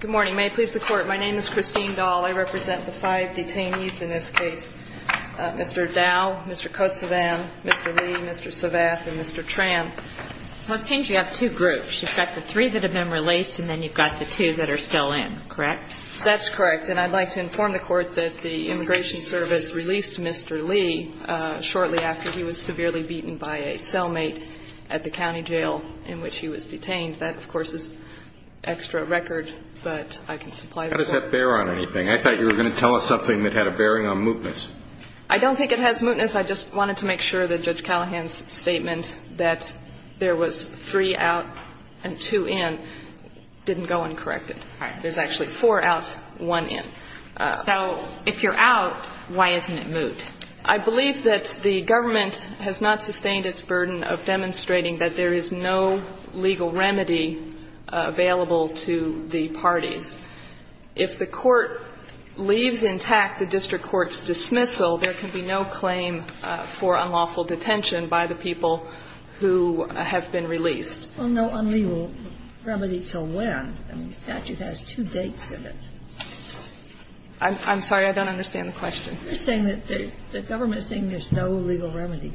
Good morning. May it please the Court, my name is Christine Dahl. I represent the five detainees in this case, Mr. Dow, Mr. Khotesouvan, Mr. Lee, Mr. Savath, and Mr. Tran. It seems you have two groups. You've got the three that have been released and then you've got the two that are still in, correct? That's correct. And I'd like to inform the Court that the Immigration Service released Mr. Lee shortly after he was severely beaten by a cellmate at the county jail in which he was detained. That, of course, is extra record, but I can supply that. How does that bear on anything? I thought you were going to tell us something that had a bearing on mootness. I don't think it has mootness. I just wanted to make sure that Judge Callahan's statement that there was three out and two in didn't go uncorrected. All right. There's actually four out, one in. So if you're out, why isn't it moot? I believe that the government has not sustained its burden of demonstrating that there is no legal remedy available to the parties. If the Court leaves intact the district court's dismissal, there can be no claim for unlawful detention by the people who have been released. Well, no unlegal remedy till when? I mean, the statute has two dates in it. I'm sorry. I don't understand the question. You're saying that the government is saying there's no legal remedy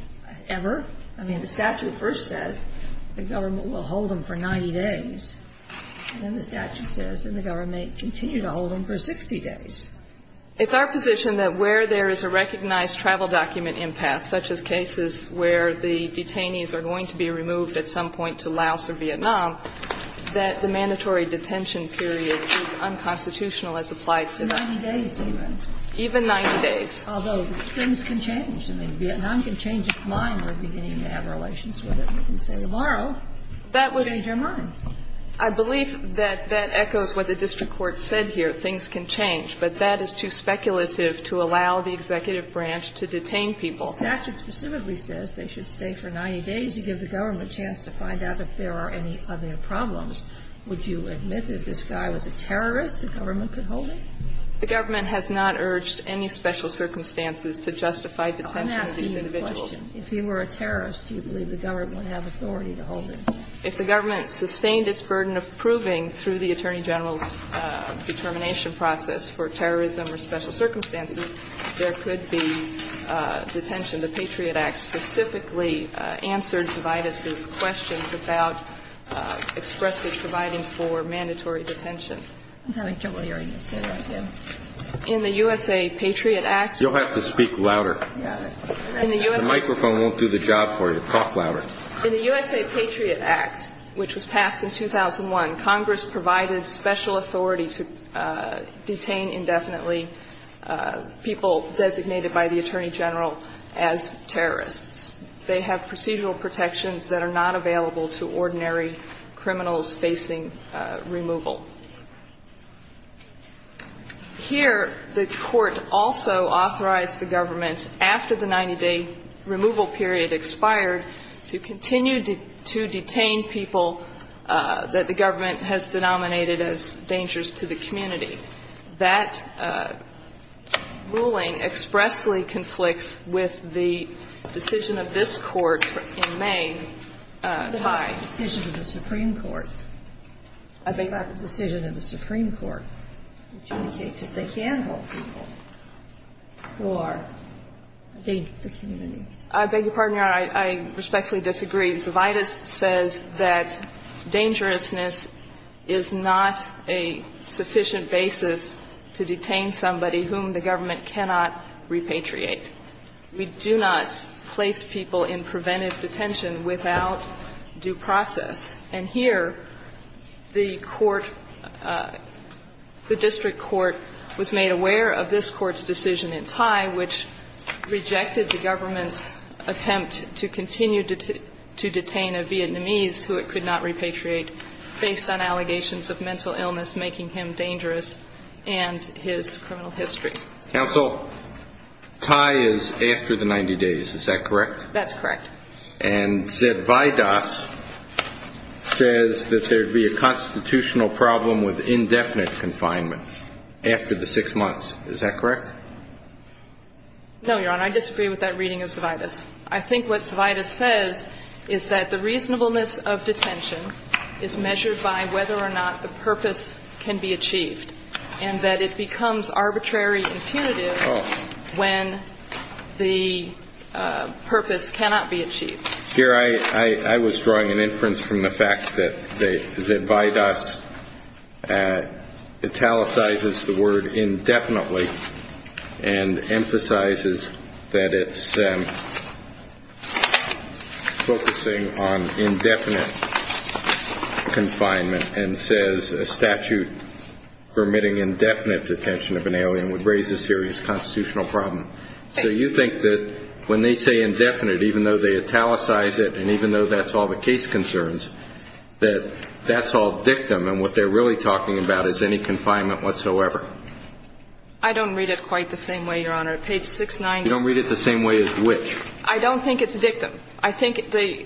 ever? I mean, the statute first says the government will hold them for 90 days. And then the statute says that the government may continue to hold them for 60 days. It's our position that where there is a recognized travel document impasse, such as cases where the detainees are going to be removed at some point to Laos or Vietnam, that the mandatory detention period is unconstitutional as applied today. 90 days even. Even 90 days. Although things can change. I mean, Vietnam can change its mind. We're beginning to have relations with it. We can say tomorrow, change your mind. I believe that that echoes what the district court said here. Things can change. But that is too speculative to allow the executive branch to detain people. The statute specifically says they should stay for 90 days to give the government a chance to find out if there are any other problems. Would you admit that if this guy was a terrorist, the government could hold him? The government has not urged any special circumstances to justify detentions of these individuals. I'm asking you a question. If he were a terrorist, do you believe the government would have authority to hold him? If the government sustained its burden of proving through the Attorney General's determination process for terrorism or special circumstances, there could be detention. The Patriot Act specifically answered DeVitus's questions about expressage providing for mandatory detention. I'm having trouble hearing you. Say that again. In the U.S.A. Patriot Act. You'll have to speak louder. The microphone won't do the job for you. Talk louder. In the U.S.A. Patriot Act, which was passed in 2001, Congress provided special authority to detain indefinitely people designated by the Attorney General as terrorists. They have procedural protections that are not available to ordinary criminals facing removal. Here, the Court also authorized the government, after the 90-day removal period expired, to continue to detain people that the government has denominated as dangerous to the community. That ruling expressly conflicts with the decision of this Court in May. I beg your pardon, Your Honor. I respectfully disagree. DeVitus says that dangerousness is not a sufficient basis to detain somebody whom the government cannot repatriate. We do not place people in preventive detention without a reason. And here, the court, the district court was made aware of this Court's decision in Thai, which rejected the government's attempt to continue to detain a Vietnamese who it could not repatriate based on allegations of mental illness making him dangerous and his criminal history. Counsel, Thai is after the 90 days. Is that correct? That's correct. And Zedvitus says that there would be a constitutional problem with indefinite confinement after the six months. Is that correct? No, Your Honor. I disagree with that reading of Zedvitus. I think what Zedvitus says is that the reasonableness of detention is measured by whether or not the purpose can be achieved and that it becomes arbitrary and punitive when the purpose cannot be achieved. Your Honor, I was drawing an inference from the fact that Zedvitus italicizes the word indefinitely and emphasizes that it's focusing on indefinite confinement and says a statute permitting indefinite detention of an alien would raise a serious constitutional problem. So you think that when they say indefinite, even though they italicize it and even though that's all the case concerns, that that's all dictum and what they're really talking about is any confinement whatsoever? I don't read it quite the same way, Your Honor. Page 690. You don't read it the same way as which? I don't think it's dictum. I think they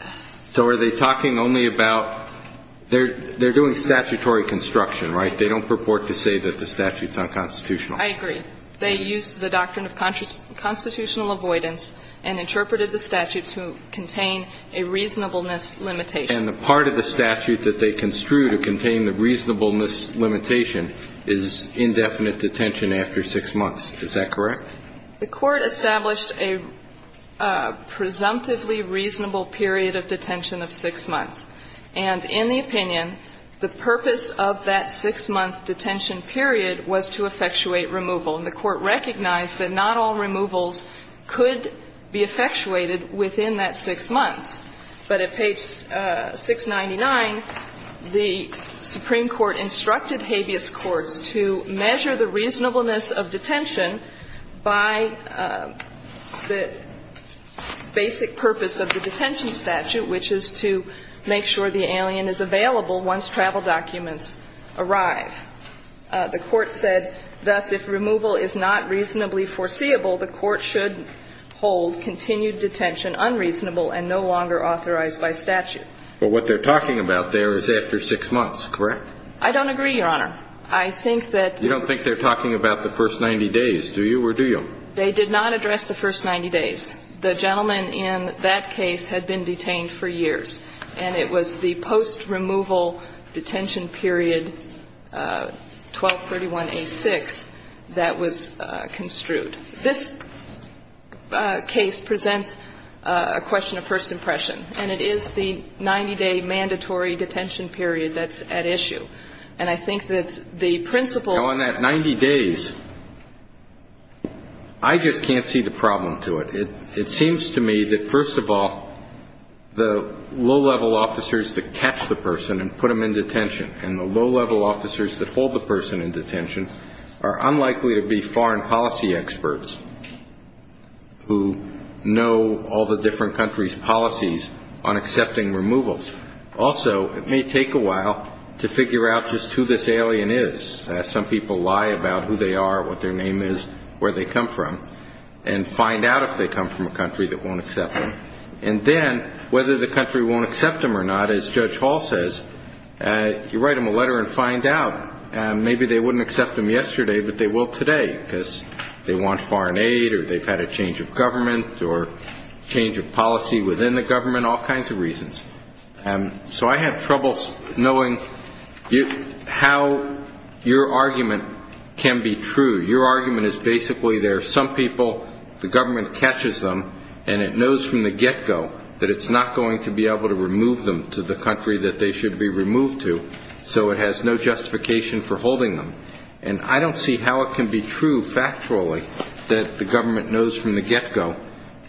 – So are they talking only about – they're doing statutory construction, right? They don't purport to say that the statute's unconstitutional. I agree. They used the doctrine of constitutional avoidance and interpreted the statute to contain a reasonableness limitation. And the part of the statute that they construe to contain the reasonableness limitation is indefinite detention after six months. Is that correct? The Court established a presumptively reasonable period of detention of six months. And in the opinion, the purpose of that six-month detention period was to effectuate removal. And the Court recognized that not all removals could be effectuated within that six months. But at page 699, the Supreme Court instructed habeas courts to measure the reasonableness of detention by the basic purpose of the detention statute, which is to make sure the alien is available once travel documents arrive. The Court said, thus, if removal is not reasonably foreseeable, the Court should hold continued detention unreasonable and no longer authorized by statute. But what they're talking about there is after six months, correct? I don't agree, Your Honor. I think that – You don't think they're talking about the first 90 days, do you, or do you? They did not address the first 90 days. The gentleman in that case had been detained for years. And it was the post-removal detention period, 1231a6, that was construed. This case presents a question of first impression. And it is the 90-day mandatory detention period that's at issue. And I think that the principles – Now, on that 90 days, I just can't see the problem to it. It seems to me that, first of all, the low-level officers that catch the person and put them in detention and the low-level officers that hold the person in detention are unlikely to be foreign policy experts who know all the different countries' policies on accepting removals. Also, it may take a while to figure out just who this alien is. Some people lie about who they are, what their name is, where they come from, and find out if they come from a country that won't accept them. And then, whether the country won't accept them or not, as Judge Hall says, you write them a letter and find out. Maybe they wouldn't accept them yesterday, but they will today, because they want foreign aid or they've had a change of government or change of policy within the government, all kinds of reasons. So I have trouble knowing how your argument can be true. Your argument is basically there are some people, the government catches them, and it knows from the get-go that it's not going to be able to remove them to the country that they should be removed to, so it has no justification for holding them. And I don't see how it can be true factually that the government knows from the get-go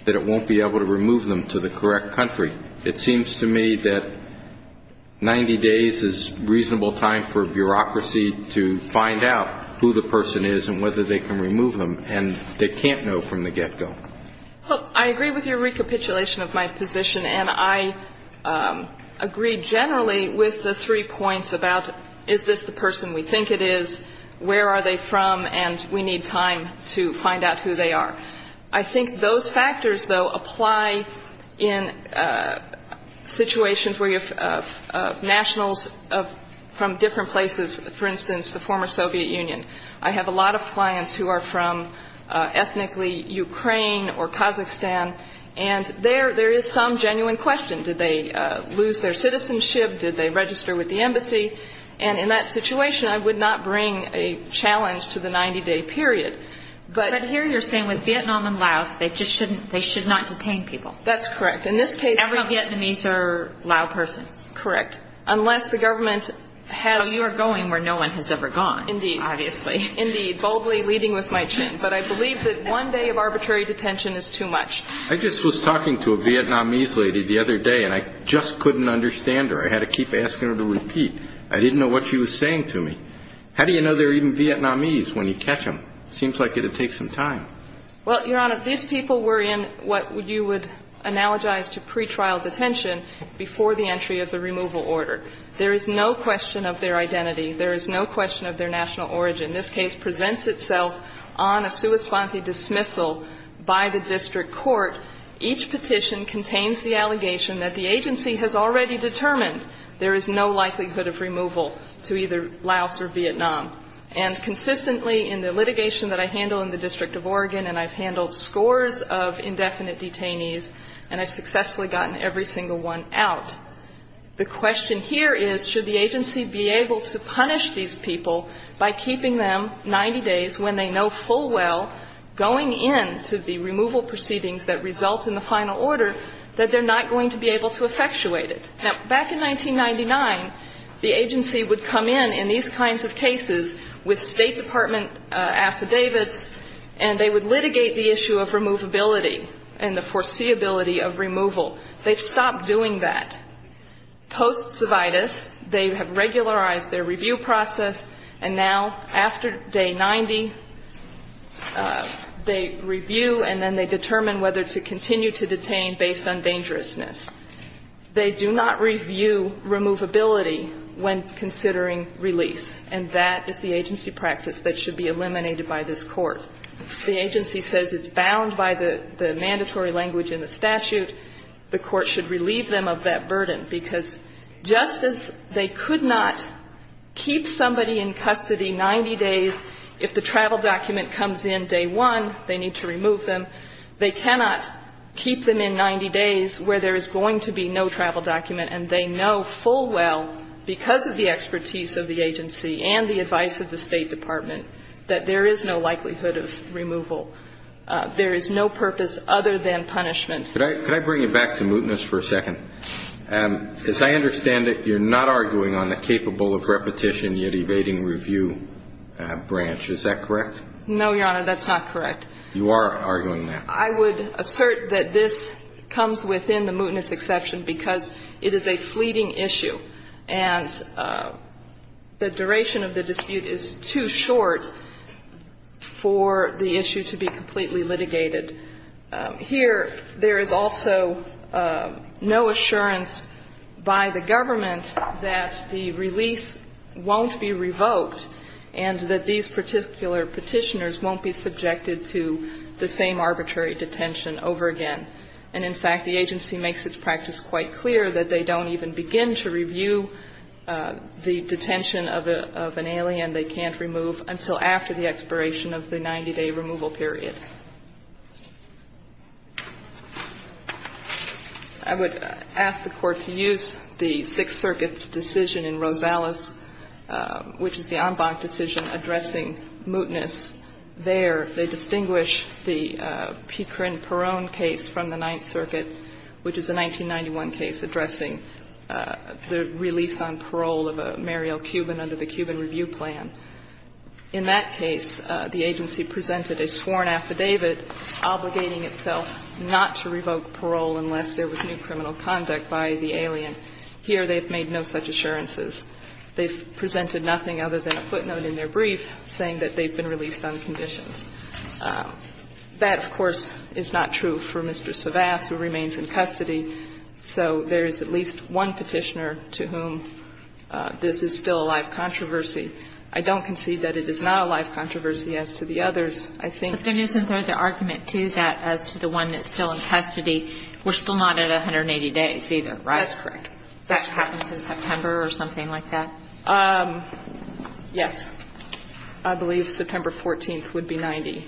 that it won't be able to remove them to the correct country. It seems to me that 90 days is a reasonable time for bureaucracy to find out who the person is and whether they can remove them, and they can't know from the get-go. I agree with your recapitulation of my position, and I agree generally with the three points about is this the person we think it is, where are they from, and we need time to find out who they are. I think those factors, though, apply in situations where you have nationals from different places. For instance, the former Soviet Union. I have a lot of clients who are from ethnically Ukraine or Kazakhstan, and there is some genuine question. Did they lose their citizenship? Did they register with the embassy? And in that situation, I would not bring a challenge to the 90-day period. But here you're saying with Vietnam and Laos, they should not detain people. That's correct. In this case, every Vietnamese or Lao person. Correct. Unless the government has. You're going where no one has ever gone. Indeed. Obviously. Indeed. Boldly leading with my chin. But I believe that one day of arbitrary detention is too much. I just was talking to a Vietnamese lady the other day, and I just couldn't understand her. I had to keep asking her to repeat. I didn't know what she was saying to me. How do you know they're even Vietnamese when you catch them? It seems like it would take some time. Well, Your Honor, these people were in what you would analogize to pretrial detention before the entry of the removal order. There is no question of their identity. There is no question of their national origin. This case presents itself on a sua sponte dismissal by the district court. Each petition contains the allegation that the agency has already determined there is no likelihood of removal to either Laos or Vietnam. And consistently in the litigation that I handle in the District of Oregon, and I've The question here is should the agency be able to punish these people by keeping them 90 days when they know full well going into the removal proceedings that result in the final order that they're not going to be able to effectuate it. Now, back in 1999, the agency would come in in these kinds of cases with State Department affidavits, and they would litigate the issue of removability and the foreseeability of removal. They've stopped doing that. Post-Cividus, they have regularized their review process, and now after day 90, they review and then they determine whether to continue to detain based on dangerousness. They do not review removability when considering release. And that is the agency practice that should be eliminated by this Court. The agency says it's bound by the mandatory language in the statute. The Court should relieve them of that burden, because just as they could not keep somebody in custody 90 days if the travel document comes in day one, they need to remove them, they cannot keep them in 90 days where there is going to be no travel document and they know full well because of the expertise of the agency and the advice of the State Department that there is no likelihood of removal. There is no purpose other than punishment. Could I bring you back to mootness for a second? As I understand it, you're not arguing on the capable of repetition yet evading review branch. Is that correct? No, Your Honor, that's not correct. You are arguing that. I would assert that this comes within the mootness exception because it is a fleeting issue. And the duration of the dispute is too short for the issue to be completely litigated. Here, there is also no assurance by the government that the release won't be revoked and that these particular Petitioners won't be subjected to the same arbitrary detention over again. And in fact, the agency makes its practice quite clear that they don't even begin to review the detention of an alien they can't remove until after the expiration of the 90-day removal period. I would ask the Court to use the Sixth Circuit's decision in Rosales, which is the en banc decision addressing mootness. There, they distinguish the Picrin-Peron case from the Ninth Circuit, which is a 1991 case addressing the release on parole of a Mariel Cuban under the Cuban review plan. In that case, the agency presented a sworn affidavit obligating itself not to revoke parole unless there was new criminal conduct by the alien. Here, they have made no such assurances. They've presented nothing other than a footnote in their brief saying that they've been released on conditions. That, of course, is not true for Mr. Savath, who remains in custody. So there is at least one Petitioner to whom this is still a live controversy. I don't concede that it is not a live controversy as to the others. I think the reason for the argument, too, that as to the one that's still in custody, we're still not at 180 days either, right? That's correct. That happens in September or something like that? Yes. I believe September 14th would be 90.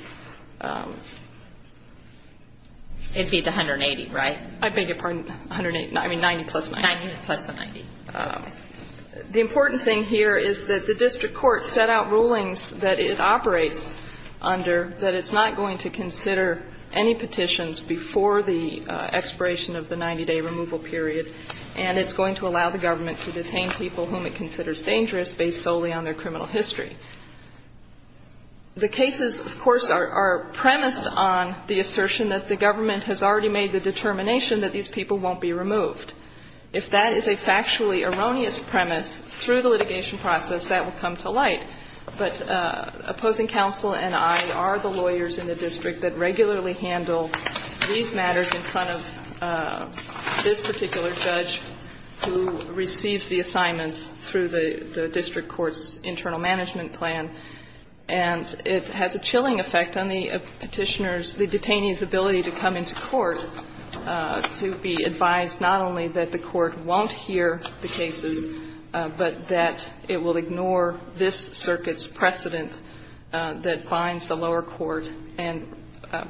It'd be the 180, right? I beg your pardon. I mean, 90 plus 90. 90 plus the 90. The important thing here is that the district court set out rulings that it operates under that it's not going to consider any petitions before the expiration of the 90-day removal period. And it's going to allow the government to detain people whom it considers dangerous based solely on their criminal history. The cases, of course, are premised on the assertion that the government has already made the determination that these people won't be removed. If that is a factually erroneous premise through the litigation process, that will come to light. But opposing counsel and I are the lawyers in the district that regularly handle these matters in front of this particular judge who receives the assignments through the district court's internal management plan. And it has a chilling effect on the Petitioner's, the detainee's ability to come into court to be advised not only that the court won't hear the cases, but that it will ignore this circuit's precedent that binds the lower court and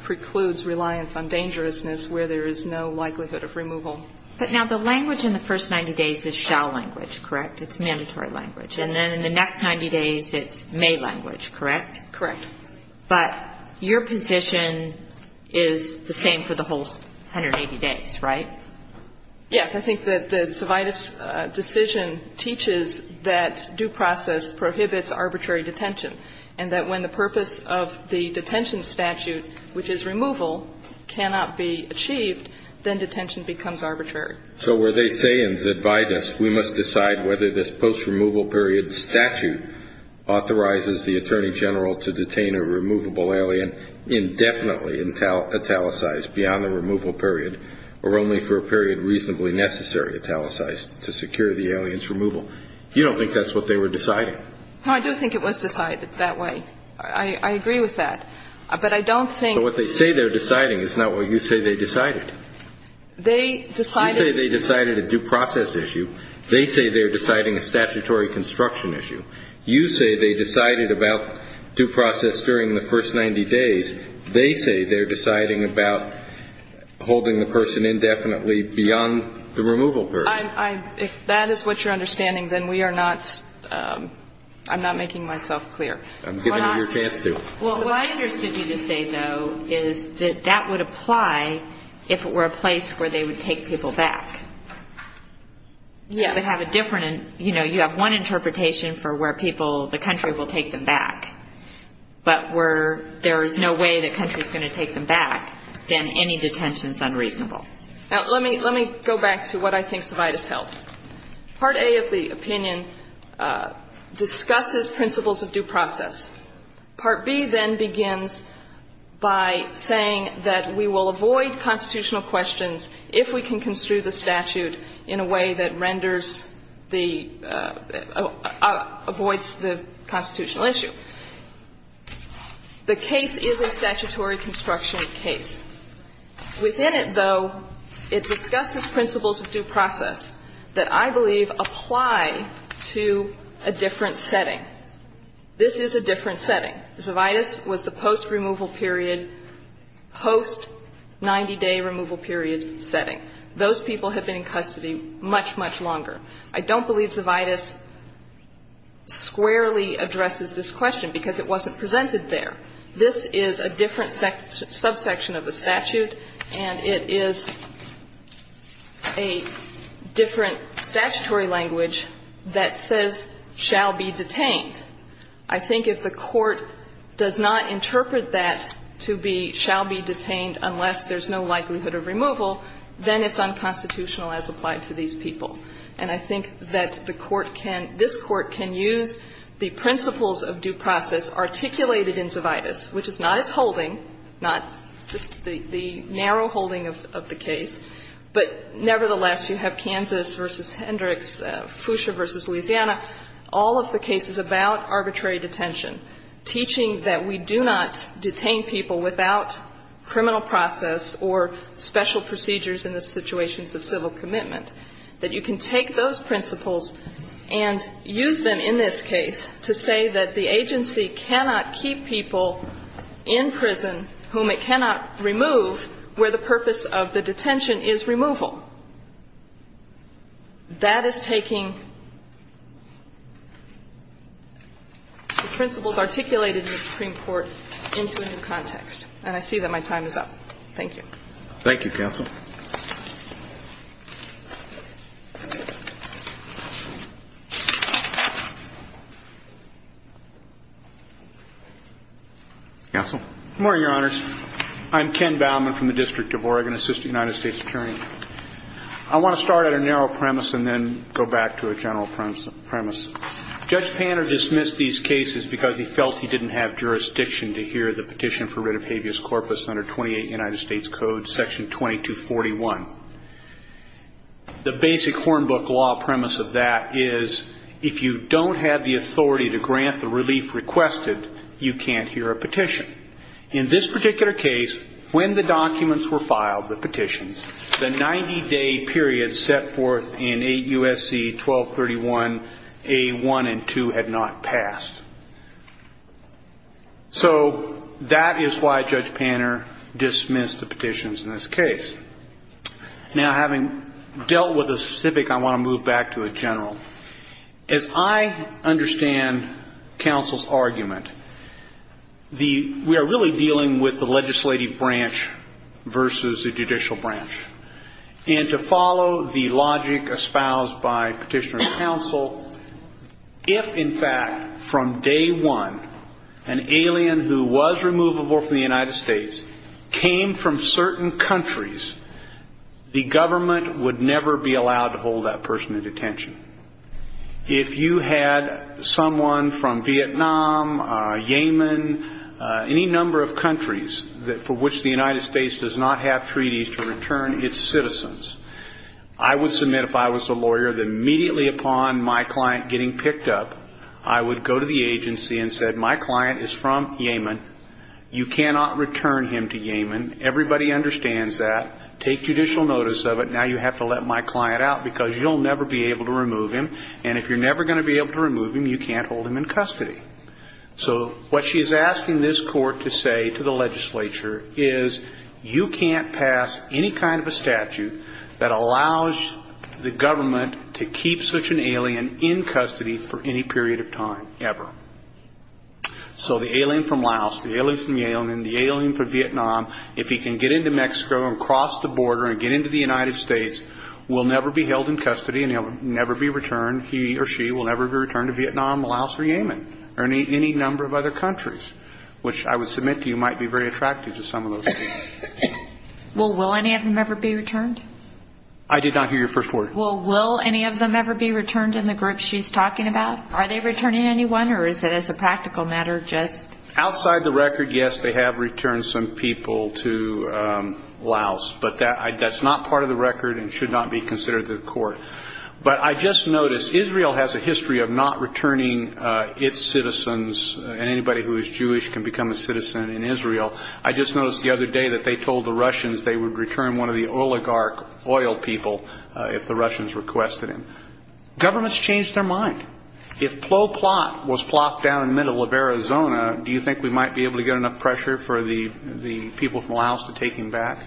precludes reliance on dangerousness where there is no likelihood of removal. But now the language in the first 90 days is shall language, correct? It's mandatory language. And then in the next 90 days, it's may language, correct? Correct. But your position is the same for the whole 180 days, right? Yes. I think that the Cividis decision teaches that due process prohibits arbitrary detention, and that when the purpose of the detention statute, which is removal, cannot be achieved, then detention becomes arbitrary. So where they say in Cividis we must decide whether this post-removal period statute authorizes the Attorney General to detain a removable alien indefinitely italicized beyond the removal period or only for a period reasonably necessary italicized to secure the alien's removal, you don't think that's what they were deciding? No, I do think it was decided that way. I agree with that. But I don't think that what they say they're deciding is not what you say they decided. They decided. You say they decided a due process issue. They say they're deciding a statutory construction issue. You say they decided about due process during the first 90 days. They say they're deciding about holding the person indefinitely beyond the removal period. If that is what you're understanding, then we are not ‑‑ I'm not making myself clear. I'm giving you your chance to. Well, what I understood you to say, though, is that that would apply if it were a place where they would take people back. Yes. They have a different ‑‑ you know, you have one interpretation for where people, the country, will take them back. But where there is no way the country is going to take them back, then any detention is unreasonable. Now, let me go back to what I think Savaitis held. Part A of the opinion discusses principles of due process. Part B then begins by saying that we will avoid constitutional questions if we can construe the statute in a way that renders the ‑‑ avoids the constitutional issue. The case is a statutory construction case. Within it, though, it discusses principles of due process that I believe apply to a different setting. This is a different setting. Savaitis was the post‑removal period, post‑90‑day removal period setting. Those people have been in custody much, much longer. I don't believe Savaitis squarely addresses this question because it wasn't presented there. This is a different subsection of the statute, and it is a different statutory language that says shall be detained. I think if the court does not interpret that to be shall be detained unless there's no likelihood of removal, then it's unconstitutional as applied to these people. And I think that the court can ‑‑ this court can use the principles of due process articulated in Savaitis, which is not its holding, not just the narrow holding of the case, but nevertheless, you have Kansas v. Hendricks, Fuchsia v. Louisiana, all of the cases about arbitrary detention, teaching that we do not detain people without criminal process or special procedures in the situations of civil commitment, that you can take those principles and use them in this case to say that the agency cannot keep people in prison whom it cannot remove where the purpose of the detention is removal. That is taking the principles articulated in the Supreme Court into a new context, and I see that my time is up. Thank you. Thank you, counsel. Counsel? Good morning, Your Honors. I'm Ken Baumann from the District of Oregon, Assistant United States Attorney. I want to start at a narrow premise and then go back to a general premise. Judge Panner dismissed these cases because he felt he didn't have jurisdiction to hear the petition for writ of habeas corpus under 28 United States Code, Section 2241. The basic hornbook law premise of that is if you don't have the authority to grant the relief requested, you can't hear a petition. In this particular case, when the documents were filed, the petitions, the 90-day period set forth in 8 U.S.C. 1231A1 and 2 had not passed. So that is why Judge Panner dismissed the petitions in this case. Now, having dealt with the specific, I want to move back to a general. As I understand counsel's argument, we are really dealing with the legislative branch versus the judicial branch. And to follow the logic espoused by petitioner and counsel, if, in fact, from day one, an alien who was removable from the United States came from certain countries, the government would never be allowed to hold that person in detention. If you had someone from Vietnam, Yemen, any number of countries for which the United States does not have treaties to return its citizens, I would submit, if I was a lawyer, that immediately upon my client getting picked up, I would go to the agency and say, My client is from Yemen. You cannot return him to Yemen. Everybody understands that. Take judicial notice of it. Now you have to let my client out because you'll never be able to remove him. And if you're never going to be able to remove him, you can't hold him in custody. So what she is asking this Court to say to the legislature is you can't pass any kind of a statute that allows the government to keep such an alien in custody for any period of time ever. So the alien from Laos, the alien from Yemen, the alien from Vietnam, if he can get into Mexico and cross the border and get into the United States, will never be held in custody and he'll never be returned. He or she will never be returned to Vietnam, Laos, or Yemen or any number of other countries, which I would submit to you might be very attractive to some of those people. Well, will any of them ever be returned? I did not hear your first word. Well, will any of them ever be returned in the group she's talking about? Are they returning anyone or is it as a practical matter just? Outside the record, yes, they have returned some people to Laos, but that's not part of the record and should not be considered to the Court. But I just noticed Israel has a history of not returning its citizens, and anybody who is Jewish can become a citizen in Israel. I just noticed the other day that they told the Russians they would return one of the oligarch oil people if the Russians requested him. Governments change their mind. If Plo Plot was plopped down in the middle of Arizona, do you think we might be able to get enough pressure for the people from Laos to take him back?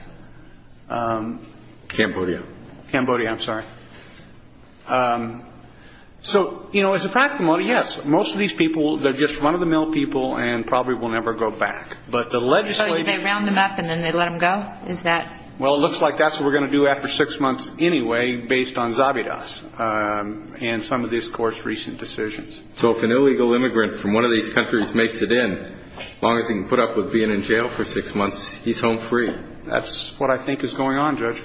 Cambodia. Cambodia, I'm sorry. So, you know, as a practical matter, yes. Most of these people, they're just run-of-the-mill people and probably will never go back. But the legislative ---- So they round them up and then they let them go? Is that ---- Well, it looks like that's what we're going to do after six months anyway based on Zabidas and some of this Court's recent decisions. So if an illegal immigrant from one of these countries makes it in, as long as he can put up with being in jail for six months, he's home free? That's what I think is going on, Judge.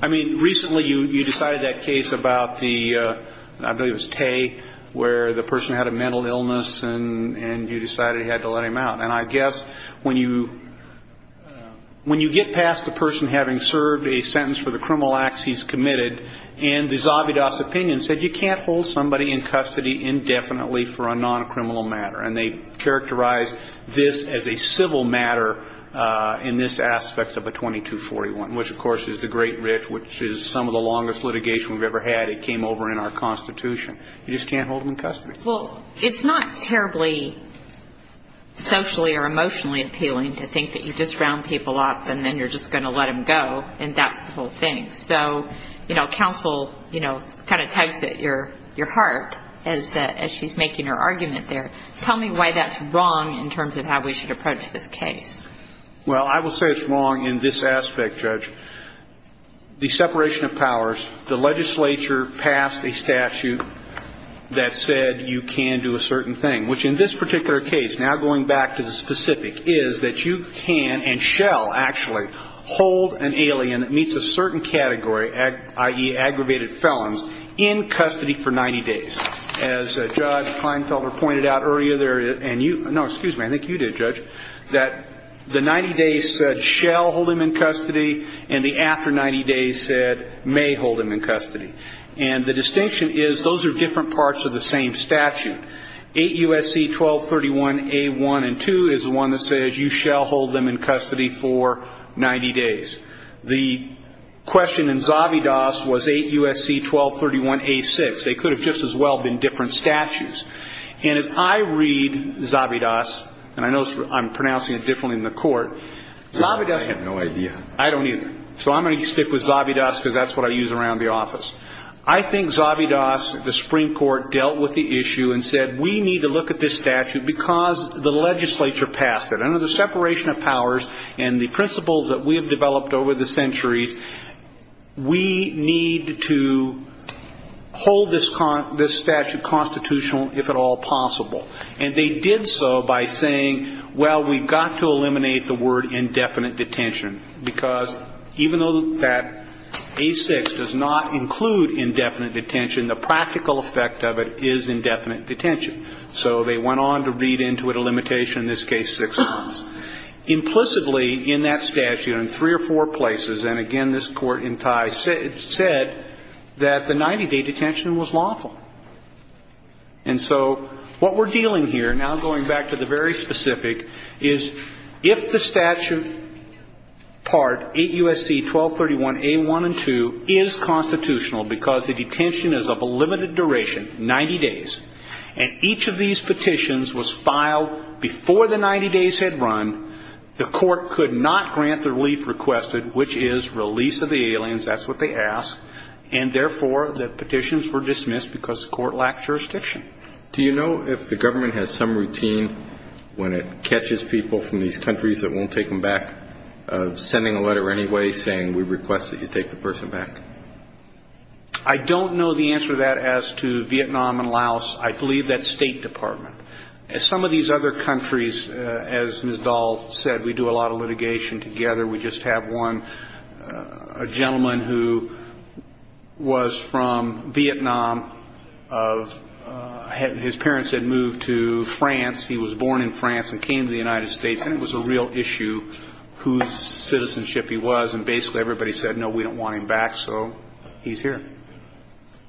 I mean, recently you decided that case about the, I believe it was Tay, where the person had a mental illness and you decided you had to let him out. And I guess when you get past the person having served a sentence for the criminal acts he's committed and the Zabidas opinion said you can't hold somebody in custody indefinitely for a non-criminal matter. And they characterized this as a civil matter in this aspect of a 2241, which, of course, is the Great Rift, which is some of the longest litigation we've ever had. It came over in our Constitution. You just can't hold them in custody. Well, it's not terribly socially or emotionally appealing to think that you just round people up and then you're just going to let them go and that's the whole thing. So, you know, counsel, you know, kind of tugs at your heart as she's making her argument there. Tell me why that's wrong in terms of how we should approach this case. Well, I will say it's wrong in this aspect, Judge. The separation of powers, the legislature passed a statute that said you can do a certain thing, which in this particular case, now going back to the specific, is that you can and shall actually hold an alien that meets a certain category, i.e., aggravated felons, in custody for 90 days. As Judge Kleinfelder pointed out earlier there, and you, no, excuse me, I think you did, Judge, that the 90 days said shall hold him in custody and the after 90 days said may hold him in custody. And the distinction is those are different parts of the same statute. 8 U.S.C. 1231 A.1 and 2 is the one that says you shall hold them in custody for 90 days. The question in Zavidas was 8 U.S.C. 1231 A.6. They could have just as well been different statutes. And as I read Zavidas, and I know I'm pronouncing it differently in the court, Zavidas. I have no idea. I don't either. So I'm going to stick with Zavidas because that's what I use around the office. I think Zavidas, the Supreme Court, dealt with the issue and said we need to look at this statute because the legislature passed it. Under the separation of powers and the principles that we have developed over the centuries, we need to hold this statute constitutional if at all possible. And they did so by saying, well, we've got to eliminate the word indefinite detention because even though that A.6 does not include indefinite detention, the practical effect of it is indefinite detention. So they went on to read into it a limitation, in this case six months. Implicitly in that statute, in three or four places, and again this Court in tie said that the 90-day detention was lawful. And so what we're dealing here, now going back to the very specific, is if the statute Part 8 U.S.C. 1231 A.1 and 2 is constitutional because the detention is of a limited duration, 90 days, and each of these petitions was filed before the 90 days had run, the Court could not grant the relief requested, which is release of the aliens, that's what they ask, and therefore the petitions were dismissed because the Court lacked jurisdiction. Do you know if the government has some routine when it catches people from these countries that won't take them back, sending a letter anyway saying we request that you take the person back? I don't know the answer to that as to Vietnam and Laos. I believe that's State Department. Some of these other countries, as Ms. Dahl said, we do a lot of litigation together. We just have one gentleman who was from Vietnam. His parents had moved to France. He was born in France and came to the United States, and it was a real issue whose citizenship he was, and basically everybody said, no, we don't want him back, so he's here.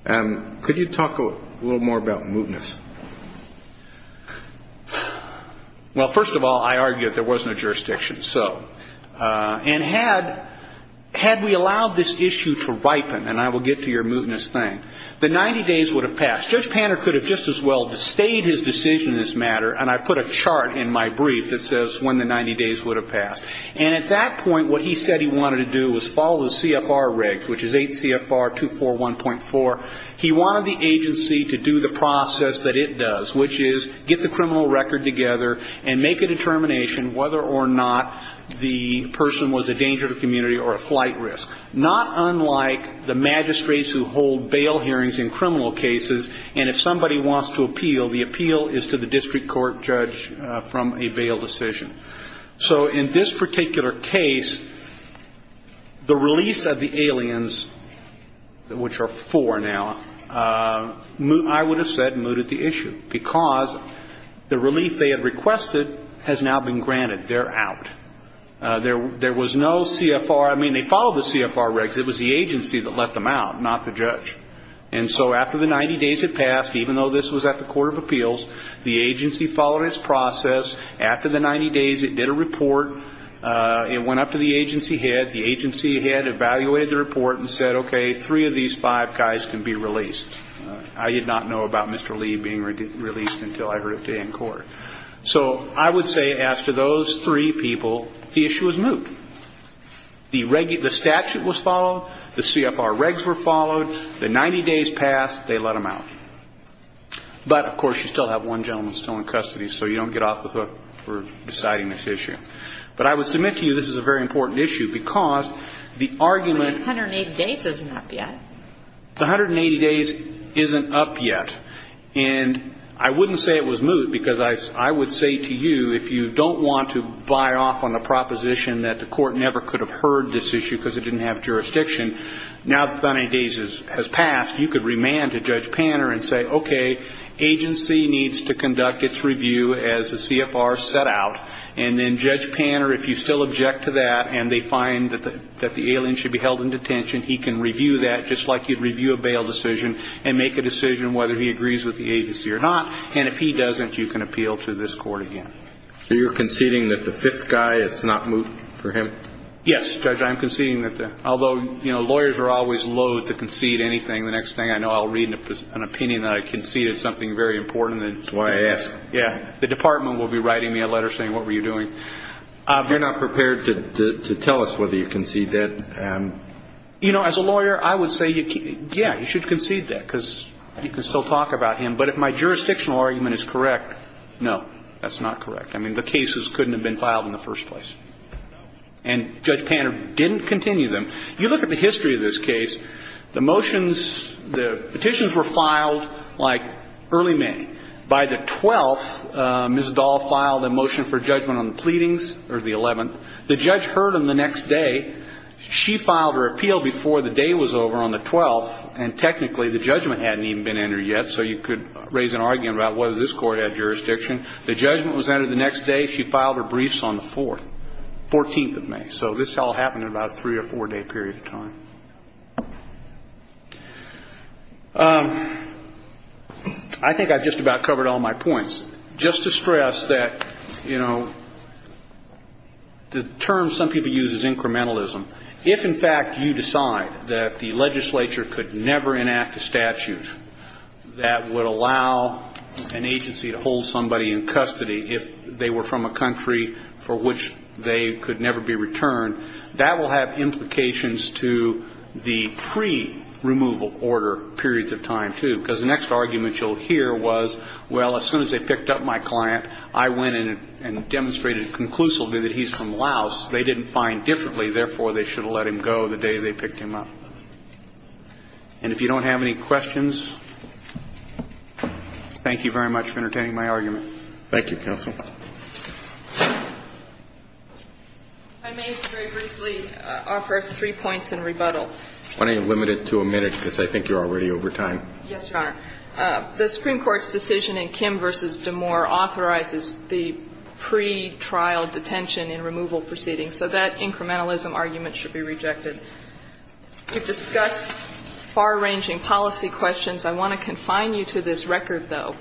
Could you talk a little more about mootness? Well, first of all, I argue that there was no jurisdiction. And had we allowed this issue to ripen, and I will get to your mootness thing, the 90 days would have passed. Judge Panner could have just as well disdained his decision in this matter, and I put a chart in my brief that says when the 90 days would have passed. And at that point, what he said he wanted to do was follow the CFR regs, which is 8 CFR 241.4. He wanted the agency to do the process that it does, which is get the criminal record together and make a determination whether or not the person was a danger to the community or a flight risk, not unlike the magistrates who hold bail hearings in criminal cases, and if somebody wants to appeal, the appeal is to the district court judge from a bail decision. So in this particular case, the release of the aliens, which are four now, I would have said mooted the issue, because the relief they had requested has now been granted. They're out. There was no CFR. I mean, they followed the CFR regs. It was the agency that let them out, not the judge. And so after the 90 days had passed, even though this was at the court of appeals, the agency followed its process. After the 90 days, it did a report. It went up to the agency head. The agency head evaluated the report and said, okay, three of these five guys can be released. I did not know about Mr. Lee being released until I heard it today in court. So I would say, as to those three people, the issue is moot. The statute was followed. The CFR regs were followed. The 90 days passed. They let them out. But, of course, you still have one gentleman still in custody, so you don't get off the hook for deciding this issue. But I would submit to you this is a very important issue, because the argument of the 180 days isn't up yet. And I wouldn't say it was moot, because I would say to you, if you don't want to buy off on the proposition that the court never could have heard this issue because it didn't have jurisdiction, now that the 90 days has passed, you could remand to Judge Panner and say, okay, agency needs to conduct its review as the CFR set out, and then Judge Panner, if you still object to that and they find that the alien should be held in detention, he can review that just like you'd review a bail decision and make a decision whether he agrees with the agency or not. And if he doesn't, you can appeal to this court again. So you're conceding that the fifth guy, it's not moot for him? Yes, Judge, I'm conceding that. Although, you know, lawyers are always loathe to concede anything. The next thing I know, I'll read an opinion that I conceded something very important. That's why I ask. Yeah. The department will be writing me a letter saying, what were you doing? You're not prepared to tell us whether you conceded that? You know, as a lawyer, I would say, yeah, you should concede that because you can still talk about him. But if my jurisdictional argument is correct, no, that's not correct. I mean, the cases couldn't have been filed in the first place. And Judge Panner didn't continue them. You look at the history of this case, the motions, the petitions were filed, like, early May. By the 12th, Ms. Dahl filed a motion for judgment on the pleadings, or the 11th. The judge heard them the next day. She filed her appeal before the day was over on the 12th. And technically, the judgment hadn't even been entered yet, so you could raise an argument about whether this court had jurisdiction. The judgment was entered the next day. She filed her briefs on the 4th, 14th of May. So this all happened in about a three- or four-day period of time. I think I've just about covered all my points. Just to stress that, you know, the term some people use is incrementalism. If, in fact, you decide that the legislature could never enact a statute that would allow an agency to hold somebody in custody if they were from a country for which they could never be returned, that will have implications to the pre-removal order periods of time, too. Because the next argument you'll hear was, well, as soon as they picked up my client, I went in and demonstrated conclusively that he's from Laos. They didn't find differently. Therefore, they should have let him go the day they picked him up. And if you don't have any questions, thank you very much for entertaining my argument. Thank you, counsel. I may very briefly offer three points in rebuttal. Why don't you limit it to a minute, because I think you're already over time. Yes, Your Honor. The Supreme Court's decision in Kim v. DeMoor authorizes the pretrial detention and removal proceedings. So that incrementalism argument should be rejected. We've discussed far-ranging policy questions. I want to confine you to this record, though.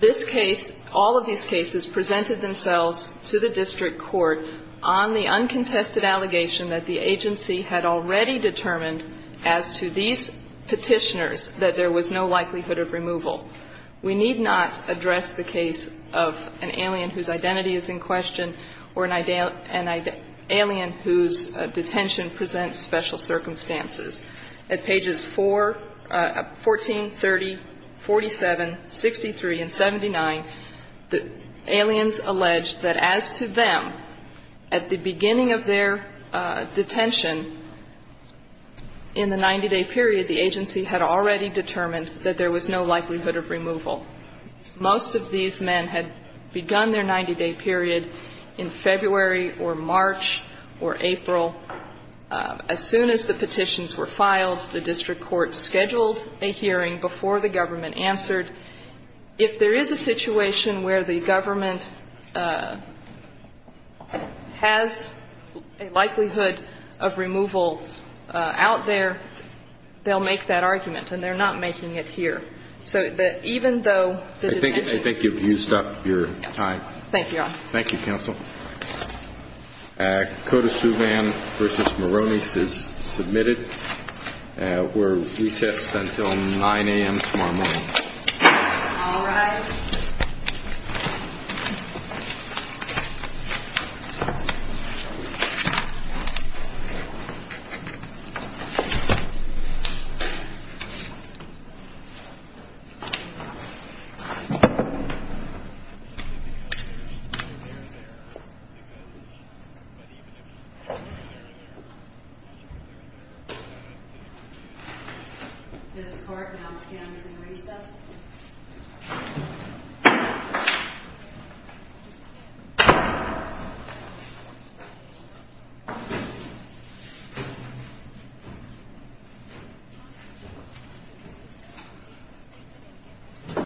This case, all of these cases, presented themselves to the district court on the uncontested allegation that the agency had already determined as to these petitioners that there was no likelihood of removal. We need not address the case of an alien whose identity is in question or an alien whose detention presents special circumstances. At pages 14, 30, 47, 63, and 79, the aliens allege that as to them, at the beginning of their detention in the 90-day period, the agency had already determined that there was no likelihood of removal. Most of these men had begun their 90-day period in February or March or April. As soon as the petitions were filed, the district court scheduled a hearing before the government answered. If there is a situation where the government has a likelihood of removal out there, they'll make that argument. And they're not making it here. So even though the detention ---- I think you've used up your time. Thank you, Your Honor. Thank you, counsel. Code of Suivan v. Moroni is submitted. We're recessed until 9 a.m. tomorrow morning. All rise. This court now stands in recess.